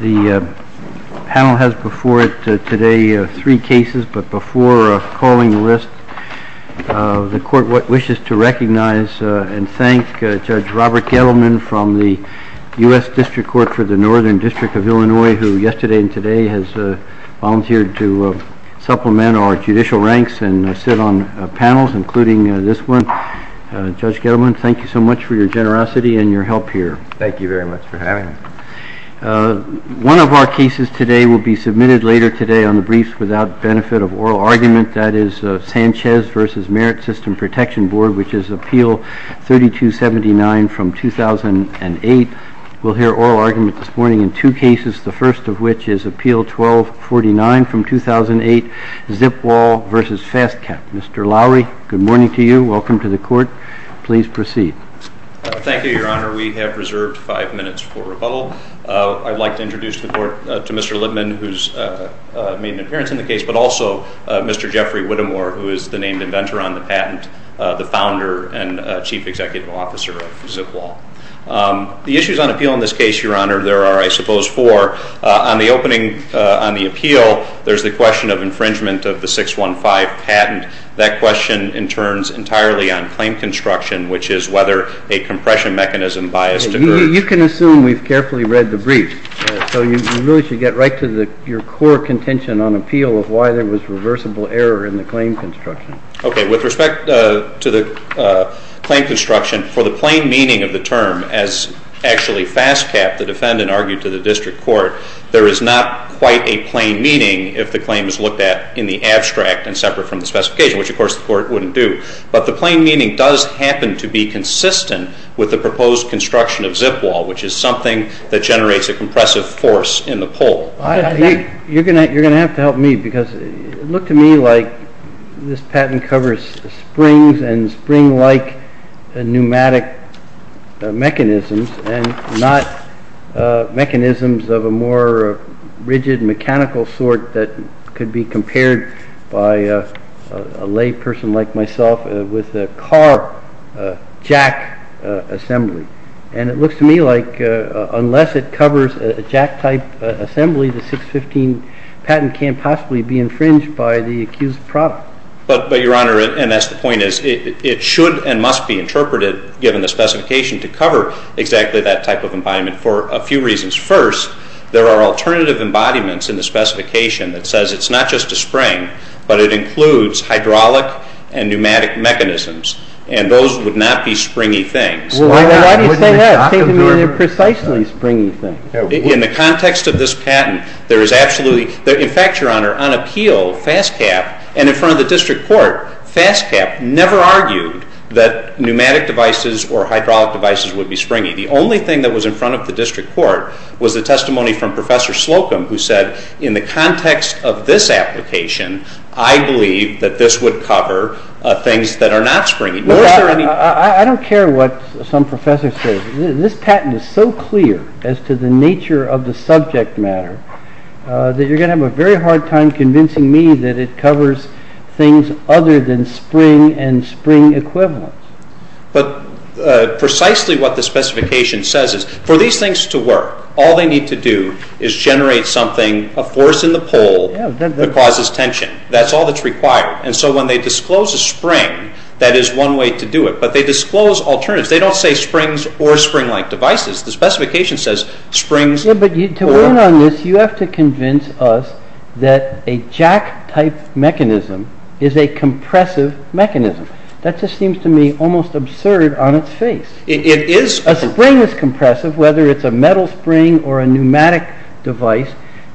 The panel has before it today three cases, but before calling the list, the court wishes to recognize and thank Judge Robert Gettleman from the U.S. District Court for the Northern District of Illinois, who yesterday and today has volunteered to supplement our judicial ranks and sit on panels, including this one. Judge Gettleman, thank you so much for your generosity and your help here. Thank you very much for having me. One of our cases today will be submitted later today on the briefs without benefit of oral argument, that is Sanchez v. Merit System Protection Board, which is Appeal 3279 from 2008. We'll hear oral argument this morning in two cases, the first of which is Appeal 1249 from 2008, Zipwall v. Fastcap. Mr. Lowery, good morning to you. Welcome to the court. Please proceed. Thank you, Your Honor. We have reserved five minutes for rebuttal. I'd like to introduce the court to Mr. Lippman, who's made an appearance in the case, but also Mr. Jeffrey Whittemore, who is the named inventor on the patent, the founder and chief executive officer of Zipwall. The issues on appeal in this case, Your Honor, there are, I suppose, four. On the opening, on the appeal, there's the question of infringement of the 615 patent. That question in turns entirely on claim construction, which is whether a compression mechanism biased occurs. You can assume we've carefully read the brief, so you really should get right to your core contention on appeal of why there was reversible error in the claim construction. Okay. With respect to the claim construction, for the plain meaning of the term, as actually Fastcap, the defendant, argued to the district court, there is not quite a plain meaning if the claim is looked at in the abstract and separate from the specification, which, of course, the court wouldn't do. But the plain meaning does happen to be consistent with the proposed construction of Zipwall, which is something that generates a compressive force in the pole. You're going to have to help me, because it looked to me like this patent covers springs and spring-like pneumatic mechanisms and not mechanisms of a more rigid, mechanical sort that could be compared by a layperson like myself with a car jack assembly. And it looks to me like unless it covers a jack-type assembly, the 615 patent can't possibly be infringed by the accused product. But, Your Honor, and that's the point, it should and must be interpreted, given the specification, to cover exactly that type of embodiment for a few reasons. First, there are alternative embodiments in the specification that says it's not just a spring, but it includes hydraulic and pneumatic mechanisms, and those would not be springy things. Why do you say that? It seems to me they're precisely springy things. In the context of this patent, there is absolutely, in fact, Your Honor, on appeal, Fastcap, and in front of the district court, Fastcap never argued that pneumatic devices or hydraulic devices would be springy. The only thing that was in front of the district court was the testimony from Professor Slocum, who said, in the context of this application, I believe that this would cover things that are not springy. Was there any- I don't care what some professor says. This patent is so clear as to the nature of the subject matter that you're going to have a very hard time convincing me that it covers things other than spring and spring equivalents. But precisely what the specification says is, for these things to work, all they need to do is generate something, a force in the pole that causes tension. That's all that's required. And so when they disclose a spring, that is one way to do it. But they disclose alternatives. They don't say springs or spring-like devices. The specification says springs- Yeah, but to win on this, you have to convince us that a jack-type mechanism is a compressive mechanism. That just seems to me almost absurd on its face. It is- A spring is compressive, whether it's a metal spring or a pneumatic device.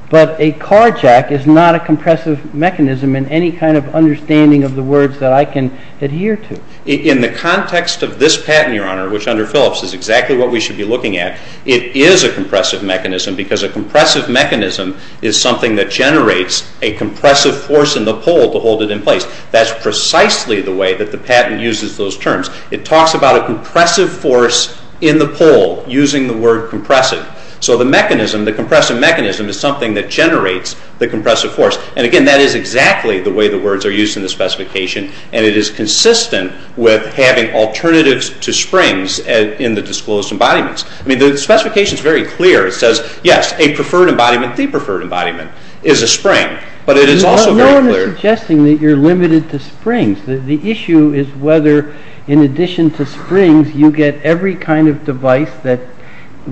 But a car jack is not a compressive mechanism in any kind of understanding of the words that I can adhere to. In the context of this patent, Your Honor, which under Phillips is exactly what we should be looking at, it is a compressive mechanism because a compressive mechanism is something that generates a compressive force in the pole to hold it in place. That's precisely the way that the patent uses those terms. It talks about a compressive force in the pole using the word compressive. So the mechanism, the compressive mechanism, is something that generates the compressive force. And again, that is exactly the way the words are used in the specification, and it is consistent with having alternatives to springs in the disclosed embodiments. I mean, the specification is very clear. It says, yes, a preferred embodiment, the preferred embodiment, is a spring. But it is also very clear- No one is suggesting that you're limited to springs. The issue is whether, in addition to springs, you get every kind of device that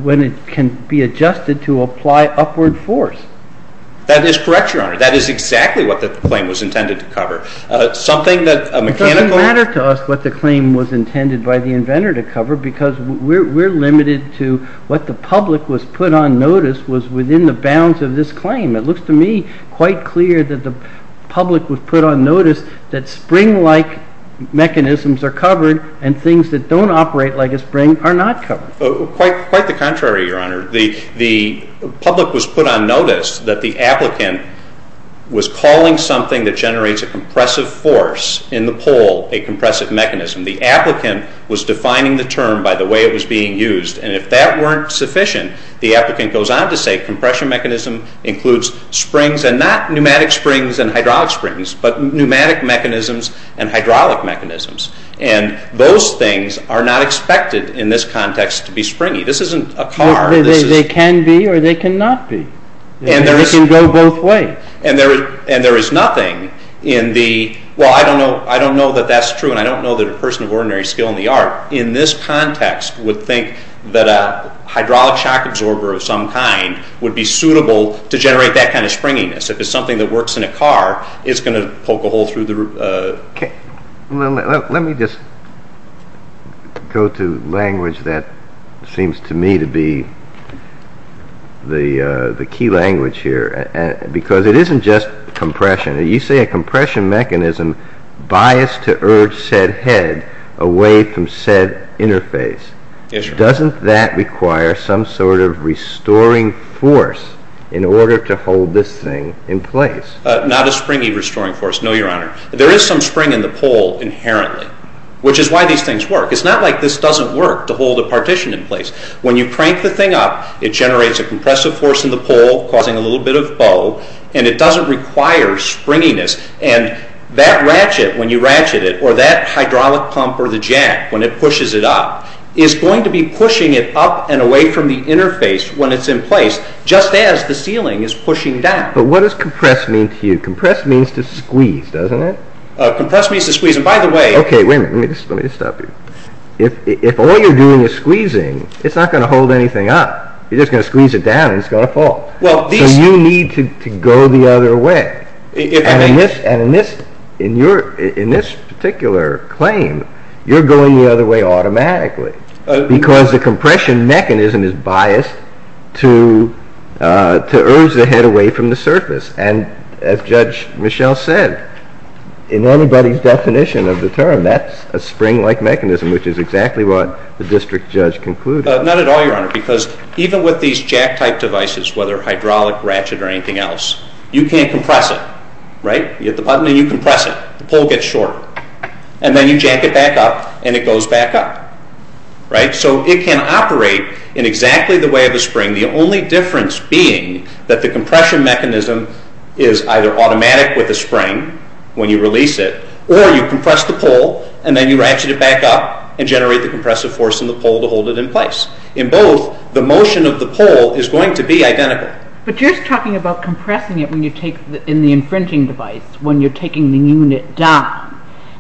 when it can be adjusted to apply upward force. That is correct, Your Honor. That is exactly what the claim was intended to cover. Something that a mechanical- Well, it doesn't matter to us what the claim was intended by the inventor to cover because we're limited to what the public was put on notice was within the bounds of this claim. It looks to me quite clear that the public was put on notice that spring-like mechanisms are covered and things that don't operate like a spring are not covered. Quite the contrary, Your Honor. The public was put on notice that the applicant was calling something that generates a compressive force in the pole a compressive mechanism. The applicant was defining the term by the way it was being used. And if that weren't sufficient, the applicant goes on to say compression mechanism includes springs and not pneumatic springs and hydraulic springs, but pneumatic mechanisms and hydraulic mechanisms. And those things are not expected in this context to be springy. This isn't a car. They can be or they cannot be. They can go both ways. And there is nothing in the- Well, I don't know that that's true and I don't know that a person of ordinary skill in the art in this context would think that a hydraulic shock absorber of some kind would be suitable to generate that kind of springiness. If it's something that works in a car, it's going to poke a hole through the- Well, let me just go to language that seems to me to be the key language here. Because it isn't just compression. You say a compression mechanism biased to urge said head away from said interface. Doesn't that require some sort of restoring force in order to hold this thing in place? Not a springy restoring force, no, Your Honor. There is some spring in the pole inherently, which is why these things work. It's not like this doesn't work to hold a partition in place. When you crank the thing up, it generates a compressive force in the pole causing a little bit of bow, and it doesn't require springiness. And that ratchet, when you ratchet it, or that hydraulic pump or the jack, when it pushes it up, is going to be pushing it up and away from the interface when it's in place, just as the ceiling is pushing down. But what does compress mean to you? Compress means to squeeze, doesn't it? Compress means to squeeze. And by the way- Okay, wait a minute. Let me just stop you. If all you're doing is squeezing, it's not going to hold anything up. You're just going to squeeze it down and it's going to fall. So you need to go the other way. And in this particular claim, you're going the other way automatically because the compression mechanism is biased to urge the head away from the surface. And as Judge Michel said, in anybody's definition of the term, that's a spring-like mechanism, which is exactly what the district judge concluded. Not at all, Your Honor, because even with these jack-type devices, whether hydraulic, ratchet, or anything else, you can't compress it. You hit the button and you compress it. The pole gets short. And then you jack it back up and it goes back up. So it can operate in exactly the way of a spring. The only difference being that the compression mechanism is either automatic with the spring when you release it, or you compress the pole and then you ratchet it back up and generate the compressive force in the pole to hold it in place. In both, the motion of the pole is going to be identical. But you're talking about compressing it in the infringing device when you're taking the unit down.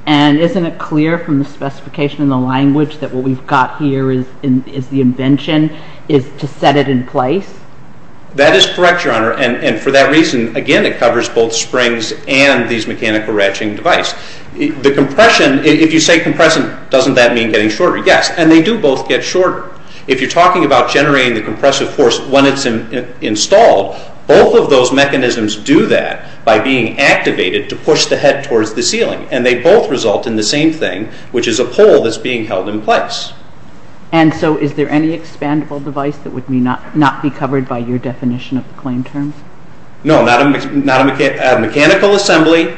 And isn't it clear from the specification in the language that what we've got here is the invention, is to set it in place? That is correct, Your Honor. And for that reason, again, it covers both springs and these mechanical ratcheting devices. The compression, if you say compressing, doesn't that mean getting shorter? Yes. And they do both get shorter. If you're talking about generating the compressive force when it's installed, both of those mechanisms do that by being activated to push the head towards the ceiling. And they both result in the same thing, which is a pole that's being held in place. And so is there any expandable device that would not be covered by your definition of the claim terms? No, not a mechanical assembly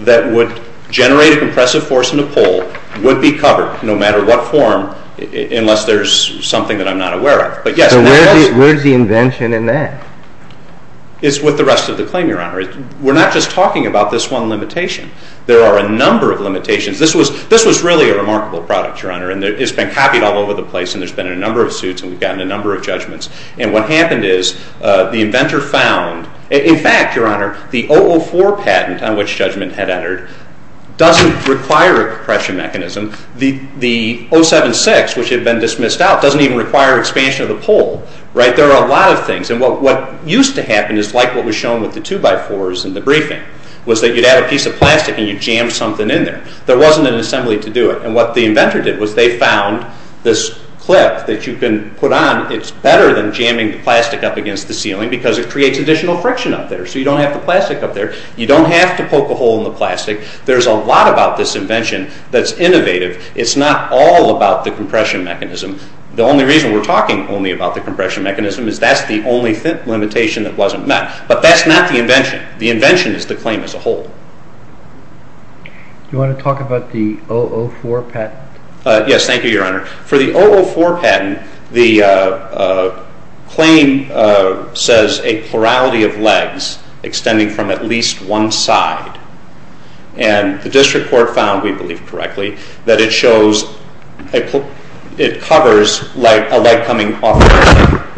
that would generate a compressive force in a pole would be covered no matter what form, unless there's something that I'm not aware of. But yes, there is. So where's the invention in that? It's with the rest of the claim, Your Honor. We're not just talking about this one limitation. There are a number of limitations. This was really a remarkable product, Your Honor, and it's been copied all over the place, And what happened is the inventor found, in fact, Your Honor, the 004 patent on which Judgment had entered doesn't require a compression mechanism. The 076, which had been dismissed out, doesn't even require expansion of the pole, right? There are a lot of things. And what used to happen is like what was shown with the 2x4s in the briefing, was that you'd add a piece of plastic and you'd jam something in there. There wasn't an assembly to do it. And what the inventor did was they found this clip that you can put on. It's better than jamming the plastic up against the ceiling because it creates additional friction up there. So you don't have the plastic up there. You don't have to poke a hole in the plastic. There's a lot about this invention that's innovative. It's not all about the compression mechanism. The only reason we're talking only about the compression mechanism is that's the only limitation that wasn't met. But that's not the invention. The invention is the claim as a whole. Do you want to talk about the 004 patent? Yes. Thank you, Your Honor. For the 004 patent, the claim says a plurality of legs extending from at least one side. And the district court found, we believe correctly, that it shows it covers a leg coming off of the other side.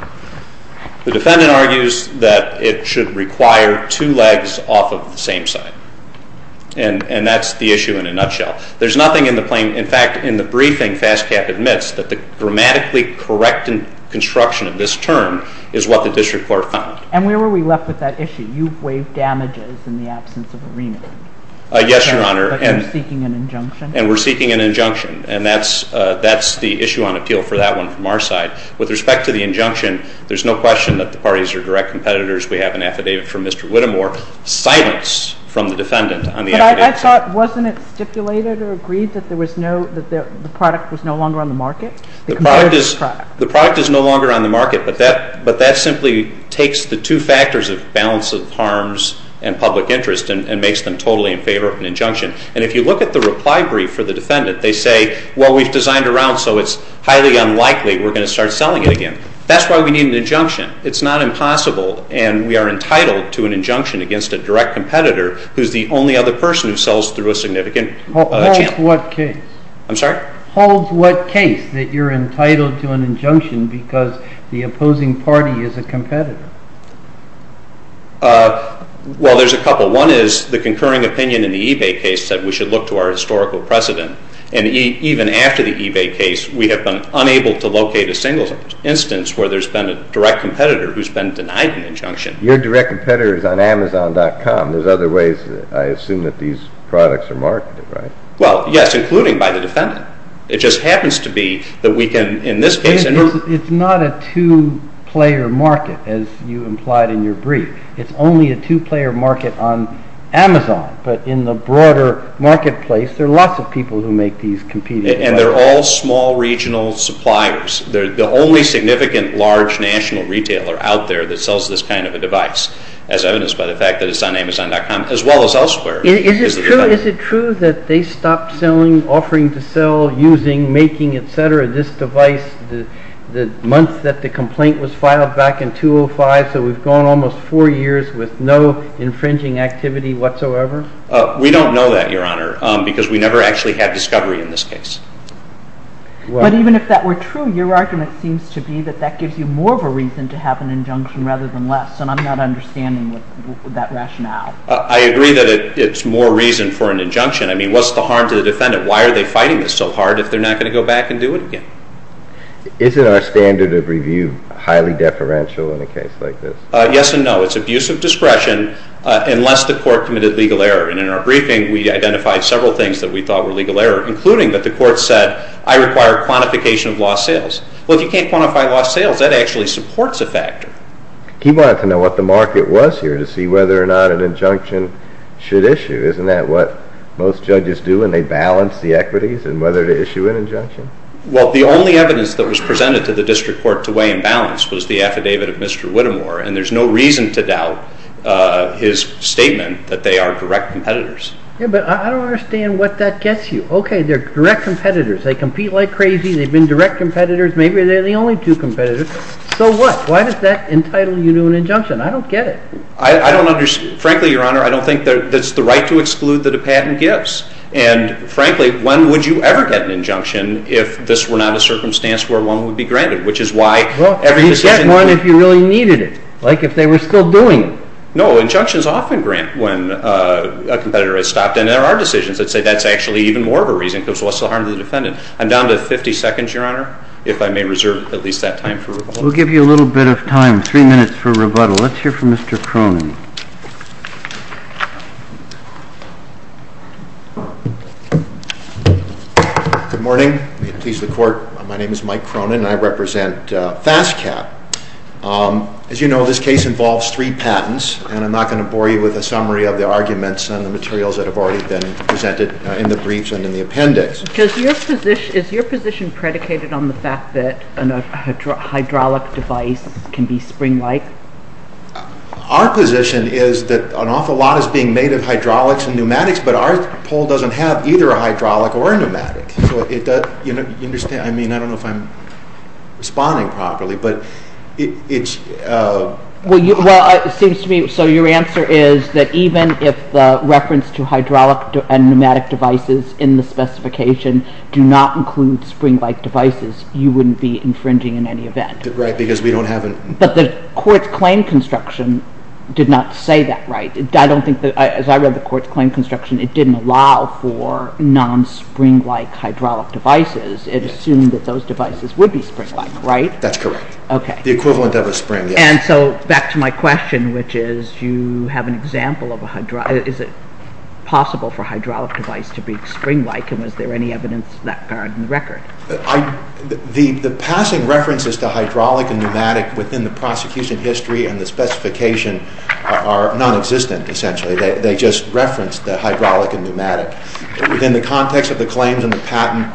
The defendant argues that it should require two legs off of the same side. And that's the issue in a nutshell. There's nothing in the claim. In fact, in the briefing, FASCAP admits that the grammatically correct construction of this term is what the district court found. And where were we left with that issue? You waived damages in the absence of a remand. Yes, Your Honor. But you're seeking an injunction? And we're seeking an injunction. And that's the issue on appeal for that one from our side. With respect to the injunction, there's no question that the parties are direct competitors. We have an affidavit from Mr. Whittemore. Silence from the defendant on the affidavit. But I thought, wasn't it stipulated or agreed that the product was no longer on the market? The product is no longer on the market. But that simply takes the two factors of balance of harms and public interest and makes them totally in favor of an injunction. And if you look at the reply brief for the defendant, they say, well, we've designed around so it's highly unlikely we're going to start selling it again. That's why we need an injunction. It's not impossible. And we are entitled to an injunction against a direct competitor who's the only other person who sells through a significant channel. Holds what case? I'm sorry? Holds what case that you're entitled to an injunction because the opposing party is a competitor? Well, there's a couple. One is the concurring opinion in the eBay case said we should look to our historical precedent. And even after the eBay case, we have been unable to locate a single instance where there's been a direct competitor who's been denied an injunction. Your direct competitor is on Amazon.com. There's other ways I assume that these products are marketed, right? Well, yes, including by the defendant. It just happens to be that we can, in this case... It's not a two-player market as you implied in your brief. It's only a two-player market on Amazon. But in the broader marketplace, there are lots of people who make these competing products. And they're all small regional suppliers. They're the only significant large national retailer out there that sells this kind of a device as evidenced by the fact that it's on Amazon.com as well as elsewhere. Is it true that they stopped selling, offering to sell, using, making, et cetera, this device the month that the complaint was filed back in 2005, so we've gone almost four years with no infringing activity whatsoever? We don't know that, Your Honor, because we never actually had discovery in this case. But even if that were true, your argument seems to be that that gives you more of a reason to have an injunction rather than less. And I'm not understanding that rationale. I agree that it's more reason for an injunction. I mean, what's the harm to the defendant? Why are they fighting this so hard if they're not going to go back and do it again? Isn't our standard of review highly deferential in a case like this? Yes and no. It's abuse of discretion unless the court committed legal error. And in our briefing, we identified several things that we thought were legal error, including that the court said, I require quantification of lost sales. Well, if you can't quantify lost sales, that actually supports a factor. He wanted to know what the market was here to see whether or not an injunction should issue. Isn't that what most judges do when they balance the equities and whether to issue an injunction? Well, the only evidence that was presented to the district court to weigh and balance was the affidavit of Mr. Whittemore. And there's no reason to doubt his statement that they are direct competitors. Yeah, but I don't understand what that gets you. Okay, they're direct competitors. They compete like crazy. They've been direct competitors. Maybe they're the only two competitors. So what? Why does that entitle you to an injunction? I don't get it. I don't understand. Frankly, Your Honor, I don't think that's the right to exclude that a patent gives. And frankly, when would you ever get an injunction if this were not a circumstance where one would be granted, which is why every decision— Well, you'd get one if you really needed it, like if they were still doing it. No, injunctions often grant when a competitor has stopped. But then there are decisions that say that's actually even more of a reason because what's the harm to the defendant? I'm down to 50 seconds, Your Honor, if I may reserve at least that time for rebuttal. We'll give you a little bit of time, three minutes for rebuttal. Let's hear from Mr. Cronin. Good morning. May it please the Court. My name is Mike Cronin and I represent FASTCAT. As you know, this case involves three patents. And I'm not going to bore you with a summary of the arguments and the materials that have already been presented in the briefs and in the appendix. Is your position predicated on the fact that a hydraulic device can be spring-like? Our position is that an awful lot is being made of hydraulics and pneumatics, but our poll doesn't have either a hydraulic or a pneumatic. Do you understand? I mean, I don't know if I'm responding properly. Well, it seems to me, so your answer is that even if the reference to hydraulic and pneumatic devices in the specification do not include spring-like devices, you wouldn't be infringing in any event. Right, because we don't have a... But the Court's claim construction did not say that, right? I don't think that, as I read the Court's claim construction, it didn't allow for non-spring-like hydraulic devices. It assumed that those devices would be spring-like, right? That's correct. The equivalent of a spring, yes. And so, back to my question, which is, do you have an example of a hydraulic... Is it possible for a hydraulic device to be spring-like and was there any evidence of that in the record? The passing references to hydraulic and pneumatic within the prosecution history and the specification are nonexistent, essentially. They just reference the hydraulic and pneumatic. Within the context of the claims and the patent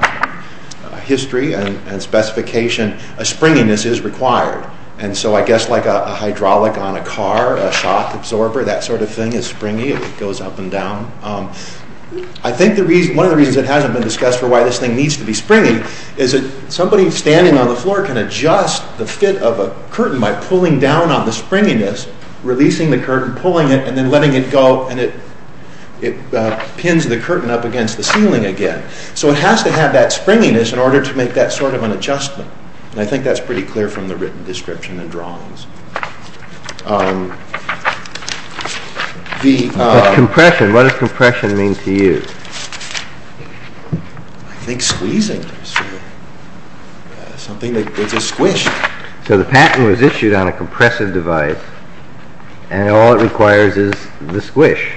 history and specification, a springiness is required. And so I guess like a hydraulic on a car, a shock absorber, that sort of thing is springy. It goes up and down. I think one of the reasons it hasn't been discussed for why this thing needs to be springy is that somebody standing on the floor can adjust the fit of a curtain by pulling down on the springiness, releasing the curtain, pulling it, and then letting it go, and it pins the curtain up against the ceiling again. So it has to have that springiness in order to make that sort of an adjustment. And I think that's pretty clear from the written description and drawings. But compression, what does compression mean to you? I think squeezing. Something that gives a squish. So the patent was issued on a compressive device and all it requires is the squish.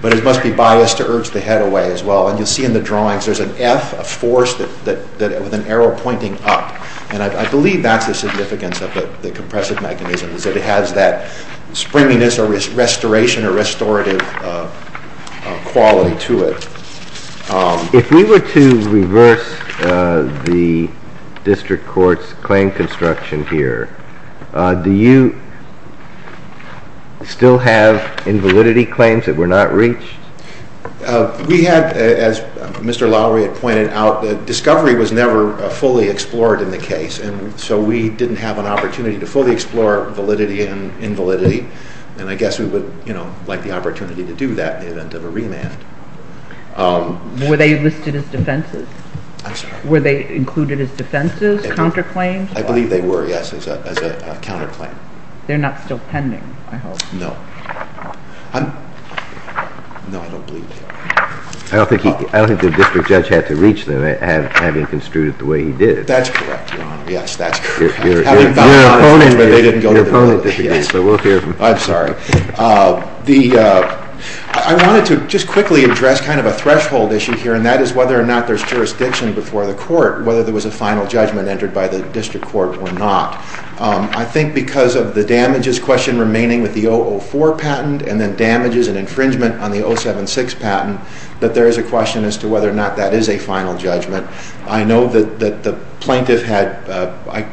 But it must be biased to urge the head away as well. And you'll see in the drawings there's an F, a force with an arrow pointing up. And I believe that's the significance of the compressive mechanism, is that it has that springiness or restoration or restorative quality to it. If we were to reverse the district court's claim construction here, do you still have invalidity claims that were not reached? We had, as Mr. Lowry had pointed out, discovery was never fully explored in the case. So we didn't have an opportunity to fully explore validity and invalidity. And I guess we would like the opportunity to do that in the event of a remand. Were they listed as defenses? I'm sorry? Were they included as defenses, counterclaims? I believe they were, yes, as a counterclaim. They're not still pending, I hope. No. I'm... No, I don't believe that. I don't think the district judge had to reach them, having construed it the way he did. That's correct, Your Honor. Yes, that's correct. You're an opponent. I'm sorry. I wanted to just quickly address kind of a threshold issue here, and that is whether or not there's jurisdiction before the court, whether there was a final judgment entered by the district court or not. I think because of the damages question remaining with the 004 patent and then damages and infringement on the 076 patent, that there is a question as to whether or not that is a final judgment. I know that the plaintiff had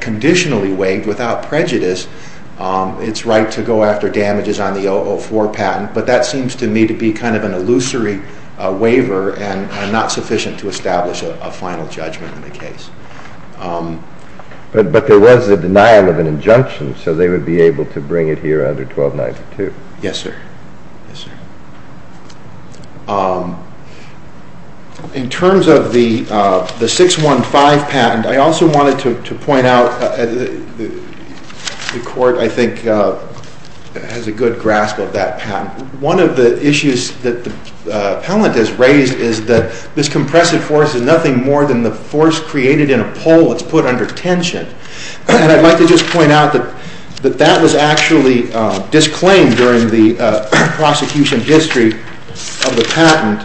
conditionally waived, without prejudice, its right to go after damages on the 004 patent, but that seems to me to be kind of an illusory waiver and not sufficient to establish a final judgment in the case. But there was a denial of an injunction, so they would be able to bring it here under 1292. Yes, sir. In terms of the 615 patent, I also wanted to point out the court, I think, has a good grasp of that patent. One of the issues that the appellant has raised is that this compressive force is nothing more than the force created in a pole that's put under tension. And I'd like to just point out that that was actually disclaimed during the prosecution history of the patent,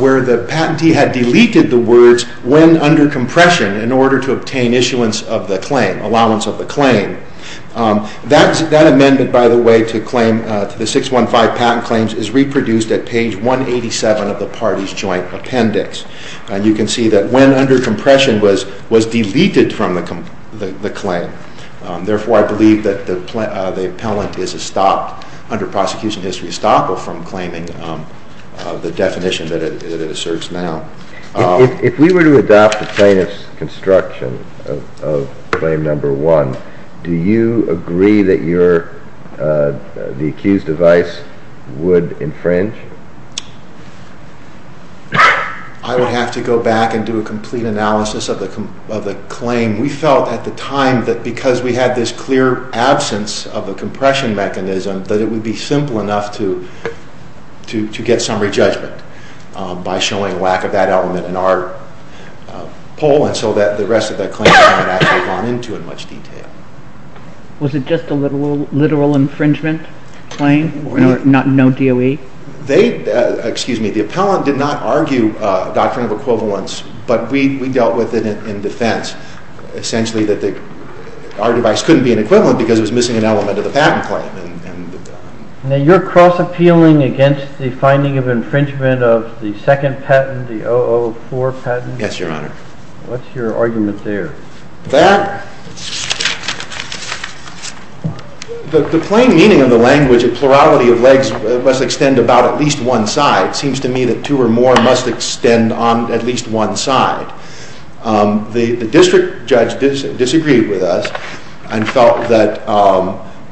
where the patentee had deleted the words when under compression in order to obtain issuance of the claim, allowance of the claim. That amendment, by the way, to the 615 patent claims is reproduced at page 187 of the parties joint appendix. And you can see that when under compression was deleted from the claim. Therefore, I believe that the appellant is stopped under prosecution history is stopped from claiming the definition that it asserts now. If we were to adopt the plaintiff's construction of claim number one, do you agree that the accused device would infringe? I would have to go back and do a complete analysis of the claim. We felt at the time that because we had this clear absence of a compression mechanism that it would be simple enough to get some re-judgment by showing lack of that element in our poll and so that the rest of that claim had not gone into in much detail. Was it just a literal infringement claim? No DOE? They, excuse me, the appellant did not argue a doctrine of equivalence, but we dealt with it in defense. Essentially, our device couldn't be an equivalent because it was missing an element of the patent claim. Now you're cross-appealing against the finding of infringement of the second patent, the 004 patent? Yes, Your Honor. What's your argument there? The plain meaning of the language of plurality of legs must extend about at least one side. It seems to me that two or more must extend on at least one side. The district judge disagreed with us and felt that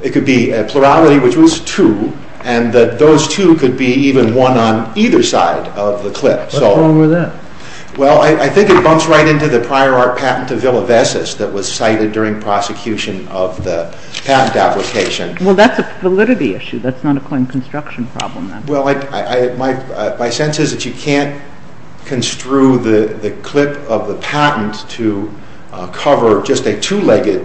it could be a plurality which was two and that those two could be even one on either side of the clip. What's wrong with that? Well, I think it bumps right into the prior art patent of Villavesas that was cited during prosecution of the patent application. Well, that's a validity issue. That's not a claim construction problem then. Well, my sense is that you can't construe the clip of the patent to cover just a two-legged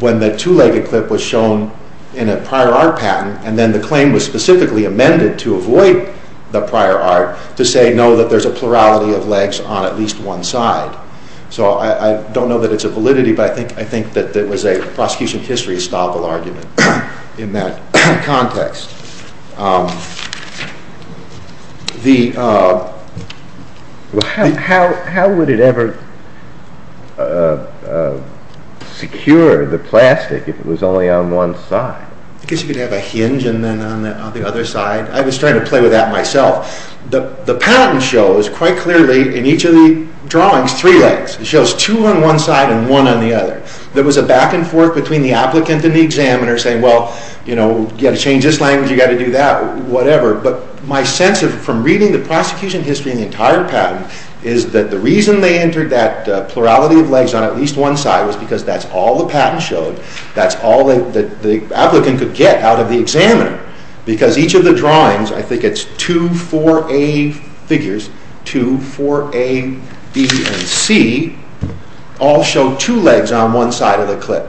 when the two-legged clip was shown in a prior art patent and then the claim was specifically amended to avoid the prior art to say no that there's a plurality of legs on at least one side. So I don't know that it's a validity but I think that it was a prosecution history and that was a very restful argument in that context. How would it ever secure the plastic if it was only on one side? Because you could have a hinge on the other side. I was trying to play with that myself. The patent shows quite clearly in the patent that there is a plurality of legs on at least one side because that's all the patent showed. That's all that the applicant could get out of the examiner because each of the drawings I think it's two four A figures two four A B and C all show two legs on one side of the clip.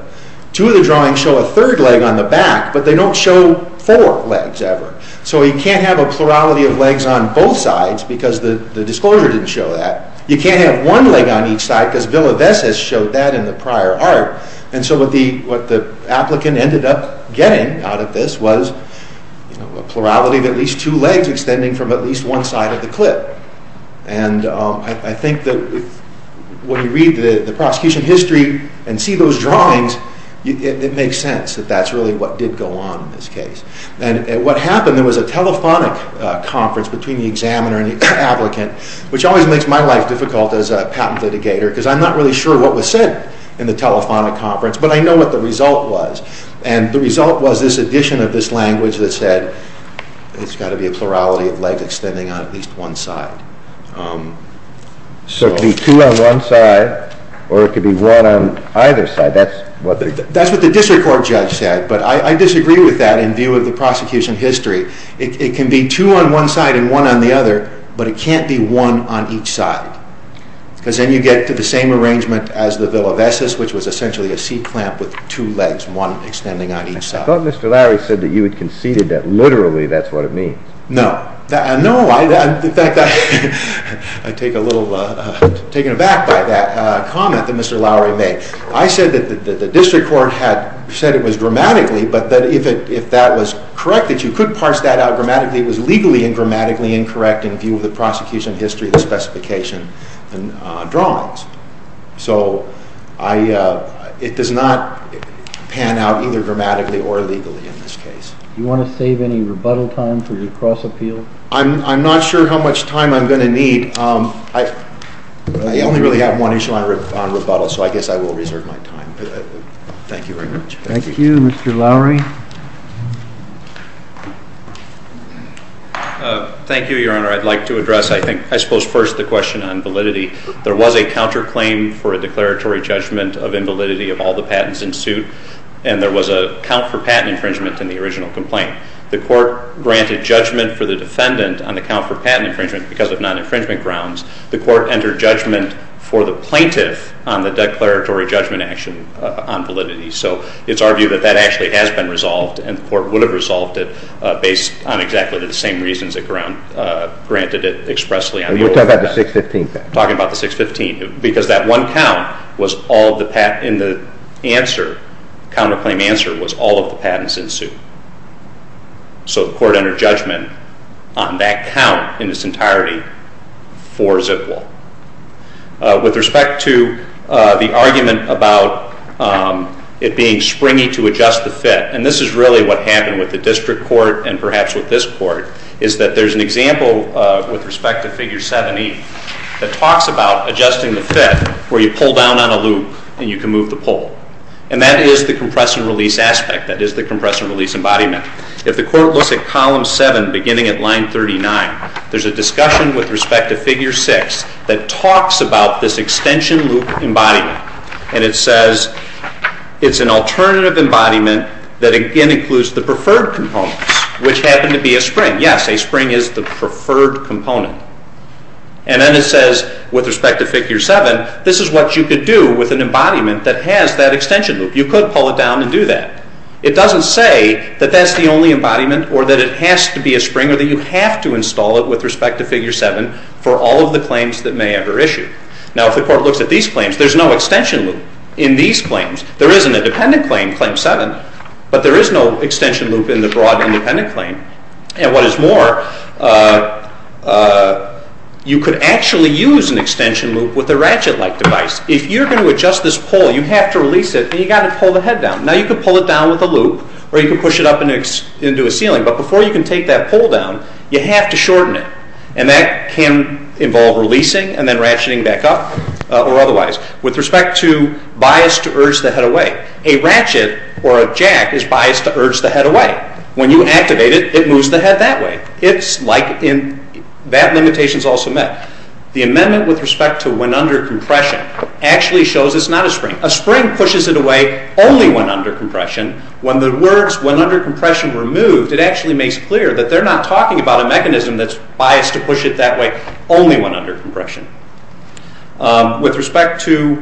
Two of the drawings show a third leg on the back but they don't show four legs ever. So you can't have a plurality of legs on both sides because the patent showed that in the prior art so what the applicant ended up getting out of this was a plurality of at least two legs extending from at least one side of the clip. I'm not sure what was said in the telephonic conference but I know what the result was and the result was this addition of this language that said it's got to be a plurality of legs extending on at least one side. So it could be two on one side or it could be one on either side. That's what the district court judge said but I disagree with that in view of the prosecution history. It can be two on one side and one on the other but it can't be one on each side. I take a little taken aback by that comment that Mr. Lowery made. I said that the district court had said it was grammatically but if that was correct you could parse that out grammatically it was legally and grammatically incorrect in view of the history of the district court. So I don't think that that is correct. I don't think that is correct. I don't think that is correct. I don't think that is correct. [...] on the account for patent infringement grounds the court entered judgment for the plaintiff on validity so it is argued that that has been resolved and words resolved the court gladly would you're talking about the 615 patent? I'm talking about the 615 because that one count was all the patent in the answer counterclaim answer was all of the patents in suit so the court entered judgment on that count in its entirety for ZIP Law with respect to the argument about it being springy to adjust the fit and this is really what happened with the district court and perhaps with this court is that there's an example with respect to figure 7E that talks about adjusting the fit where you pull down on a loop and you can move the pole and that is the compress and release aspect that is the compress and release embodiment if the court looks at column 7 beginning at line 39 there's a discussion with respect to figure 6 that talks about this extension loop embodiment and it says it's an alternative embodiment that again includes the preferred components which happen to be a spring yes a spring is the preferred component and then it says with respect to figure 7 this is what you could do with an embodiment that has that extension loop you could pull it down and do that it doesn't say that that's the only embodiment or that it has to be a spring or that you have to install it with respect to figure 7 for all of the claims that may ever issue now if the court looks at these claims there's no extension loop in these claims there isn't a dependent claim, claim 7 but there is no extension loop in the broad independent claim and what is more you could actually use an extension loop with a ratchet like device if you're going to adjust this pole you have to release it and you've got to pull the head down now you can pull it down with a loop or you can push it up into a ceiling but before you can take that pole down you have to shorten it and that can involve releasing and then ratcheting back up or otherwise with respect to bias to urge the head away a ratchet or a jack is biased to urge the head away when you activate it it moves the head that way that limitation is also met the amendment with respect to when under compression actually shows it's not a spring a spring pushes it away only when under compression when the words when under compression were moved it actually makes clear that they're not talking about a mechanism that's biased to push it that way only when under compression with respect to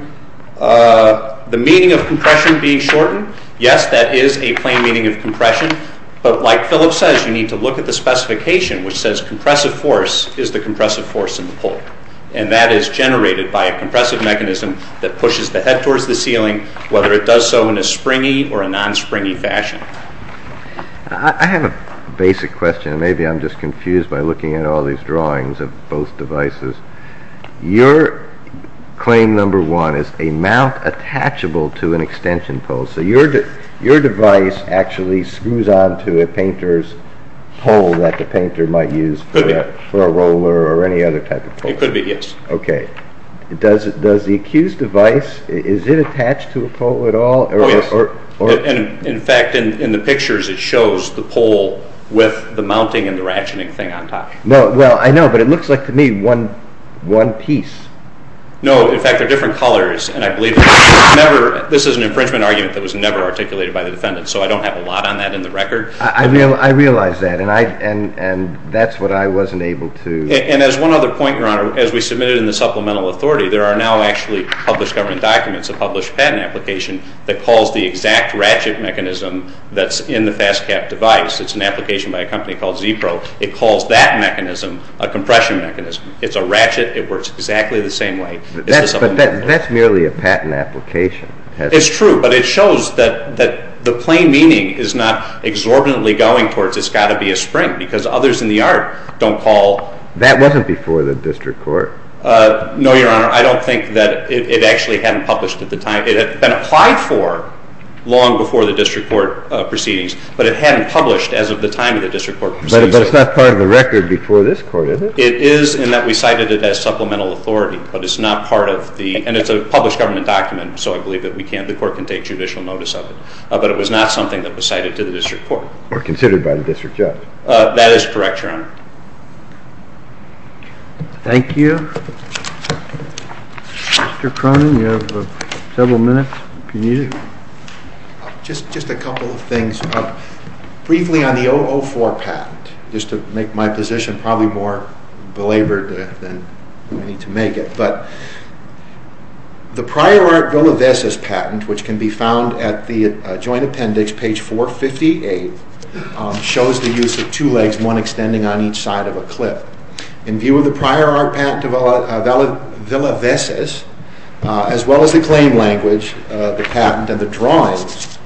the meaning of compression being shortened yes that is a plain meaning of compression but like Philip says you need to look at the specification which says compressive force is the compressive force in the pole and that is generated by a compressive mechanism that pushes the head towards the ceiling whether it does so in a springy or a non-springy fashion I have a basic question maybe I'm just confused by looking at all these drawings of both devices your claim number one is a mount attachable to an extension pole so your device actually screws onto a painter's pole that the painter might use for a roller or any other type of pole it could be yes does the accused device is it attached to a pole at all? oh yes in fact in the pictures it shows the pole with the mounting and the ratcheting thing on top well I know but it looks like to me one piece no in fact they're different colors and I believe this is an infringement argument that was never articulated by the defendant so I don't have a lot on that in the record I realize that and that's what I wasn't able to and as one other point your honor as we submitted in the supplemental authority there are now actually published government documents a published patent application that calls the exact ratchet mechanism that's in the FastCap device it's an application by a company called Zepro it calls that mechanism a compression mechanism it's a ratchet it works exactly the same way that's merely a patent application it's true but it shows that the plain meaning is not exorbitantly going towards it's got to be a spring because others in the art don't call that wasn't before the district court no your honor I don't think that it actually hadn't published at the time it had been applied for long before the district court proceedings but it hadn't published as of the time of the district court proceedings but it's not part of the record before this court is it? it is in that we cited it as supplemental authority but it's not part of the and it's a published government document so I believe that we can't the court can take judicial notice of it but it was not something that was cited to the district court or considered by the district judge that is correct your honor thank you Mr. Cronin you have several minutes if you need it just a couple of things briefly on the 004 patent just to make my position probably more belabored than we need to make it but the prior art Villa Vesis patent which can be found at the joint appendix page 458 shows the use of two legs one extending on each side of a cliff in view of the prior art patent Villa Vesis as well as the claim language the patent and the drawings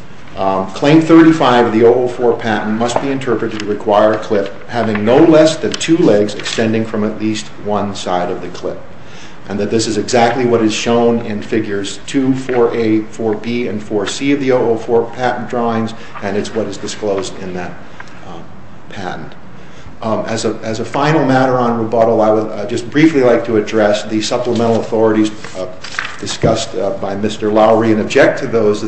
claim 35 of the 004 patent must be interpreted to require a cliff having no less than two legs extending from at least one side of the cliff and that this is exactly what is shown in figures 2, 4A, 4B and 4C of the 004 patent drawings and it's what is disclosed in that patent as a final matter on rebuttal I would just briefly like to address the supplemental authorities discussed by Mr. Lowery and object to those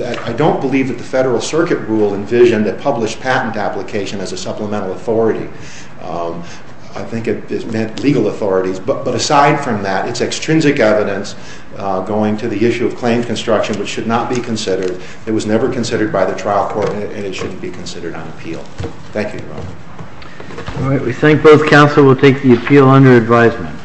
I don't believe that the Federal Circuit rule envisioned that published patent application as a supplemental authority I think it meant legal authorities but aside from that it's extrinsic evidence going to the issue of claim construction which should not be considered it was never considered by the trial court and it shouldn't be considered on appeal Thank you, Your Honor All right, we thank both counsel We'll take the appeal under advisement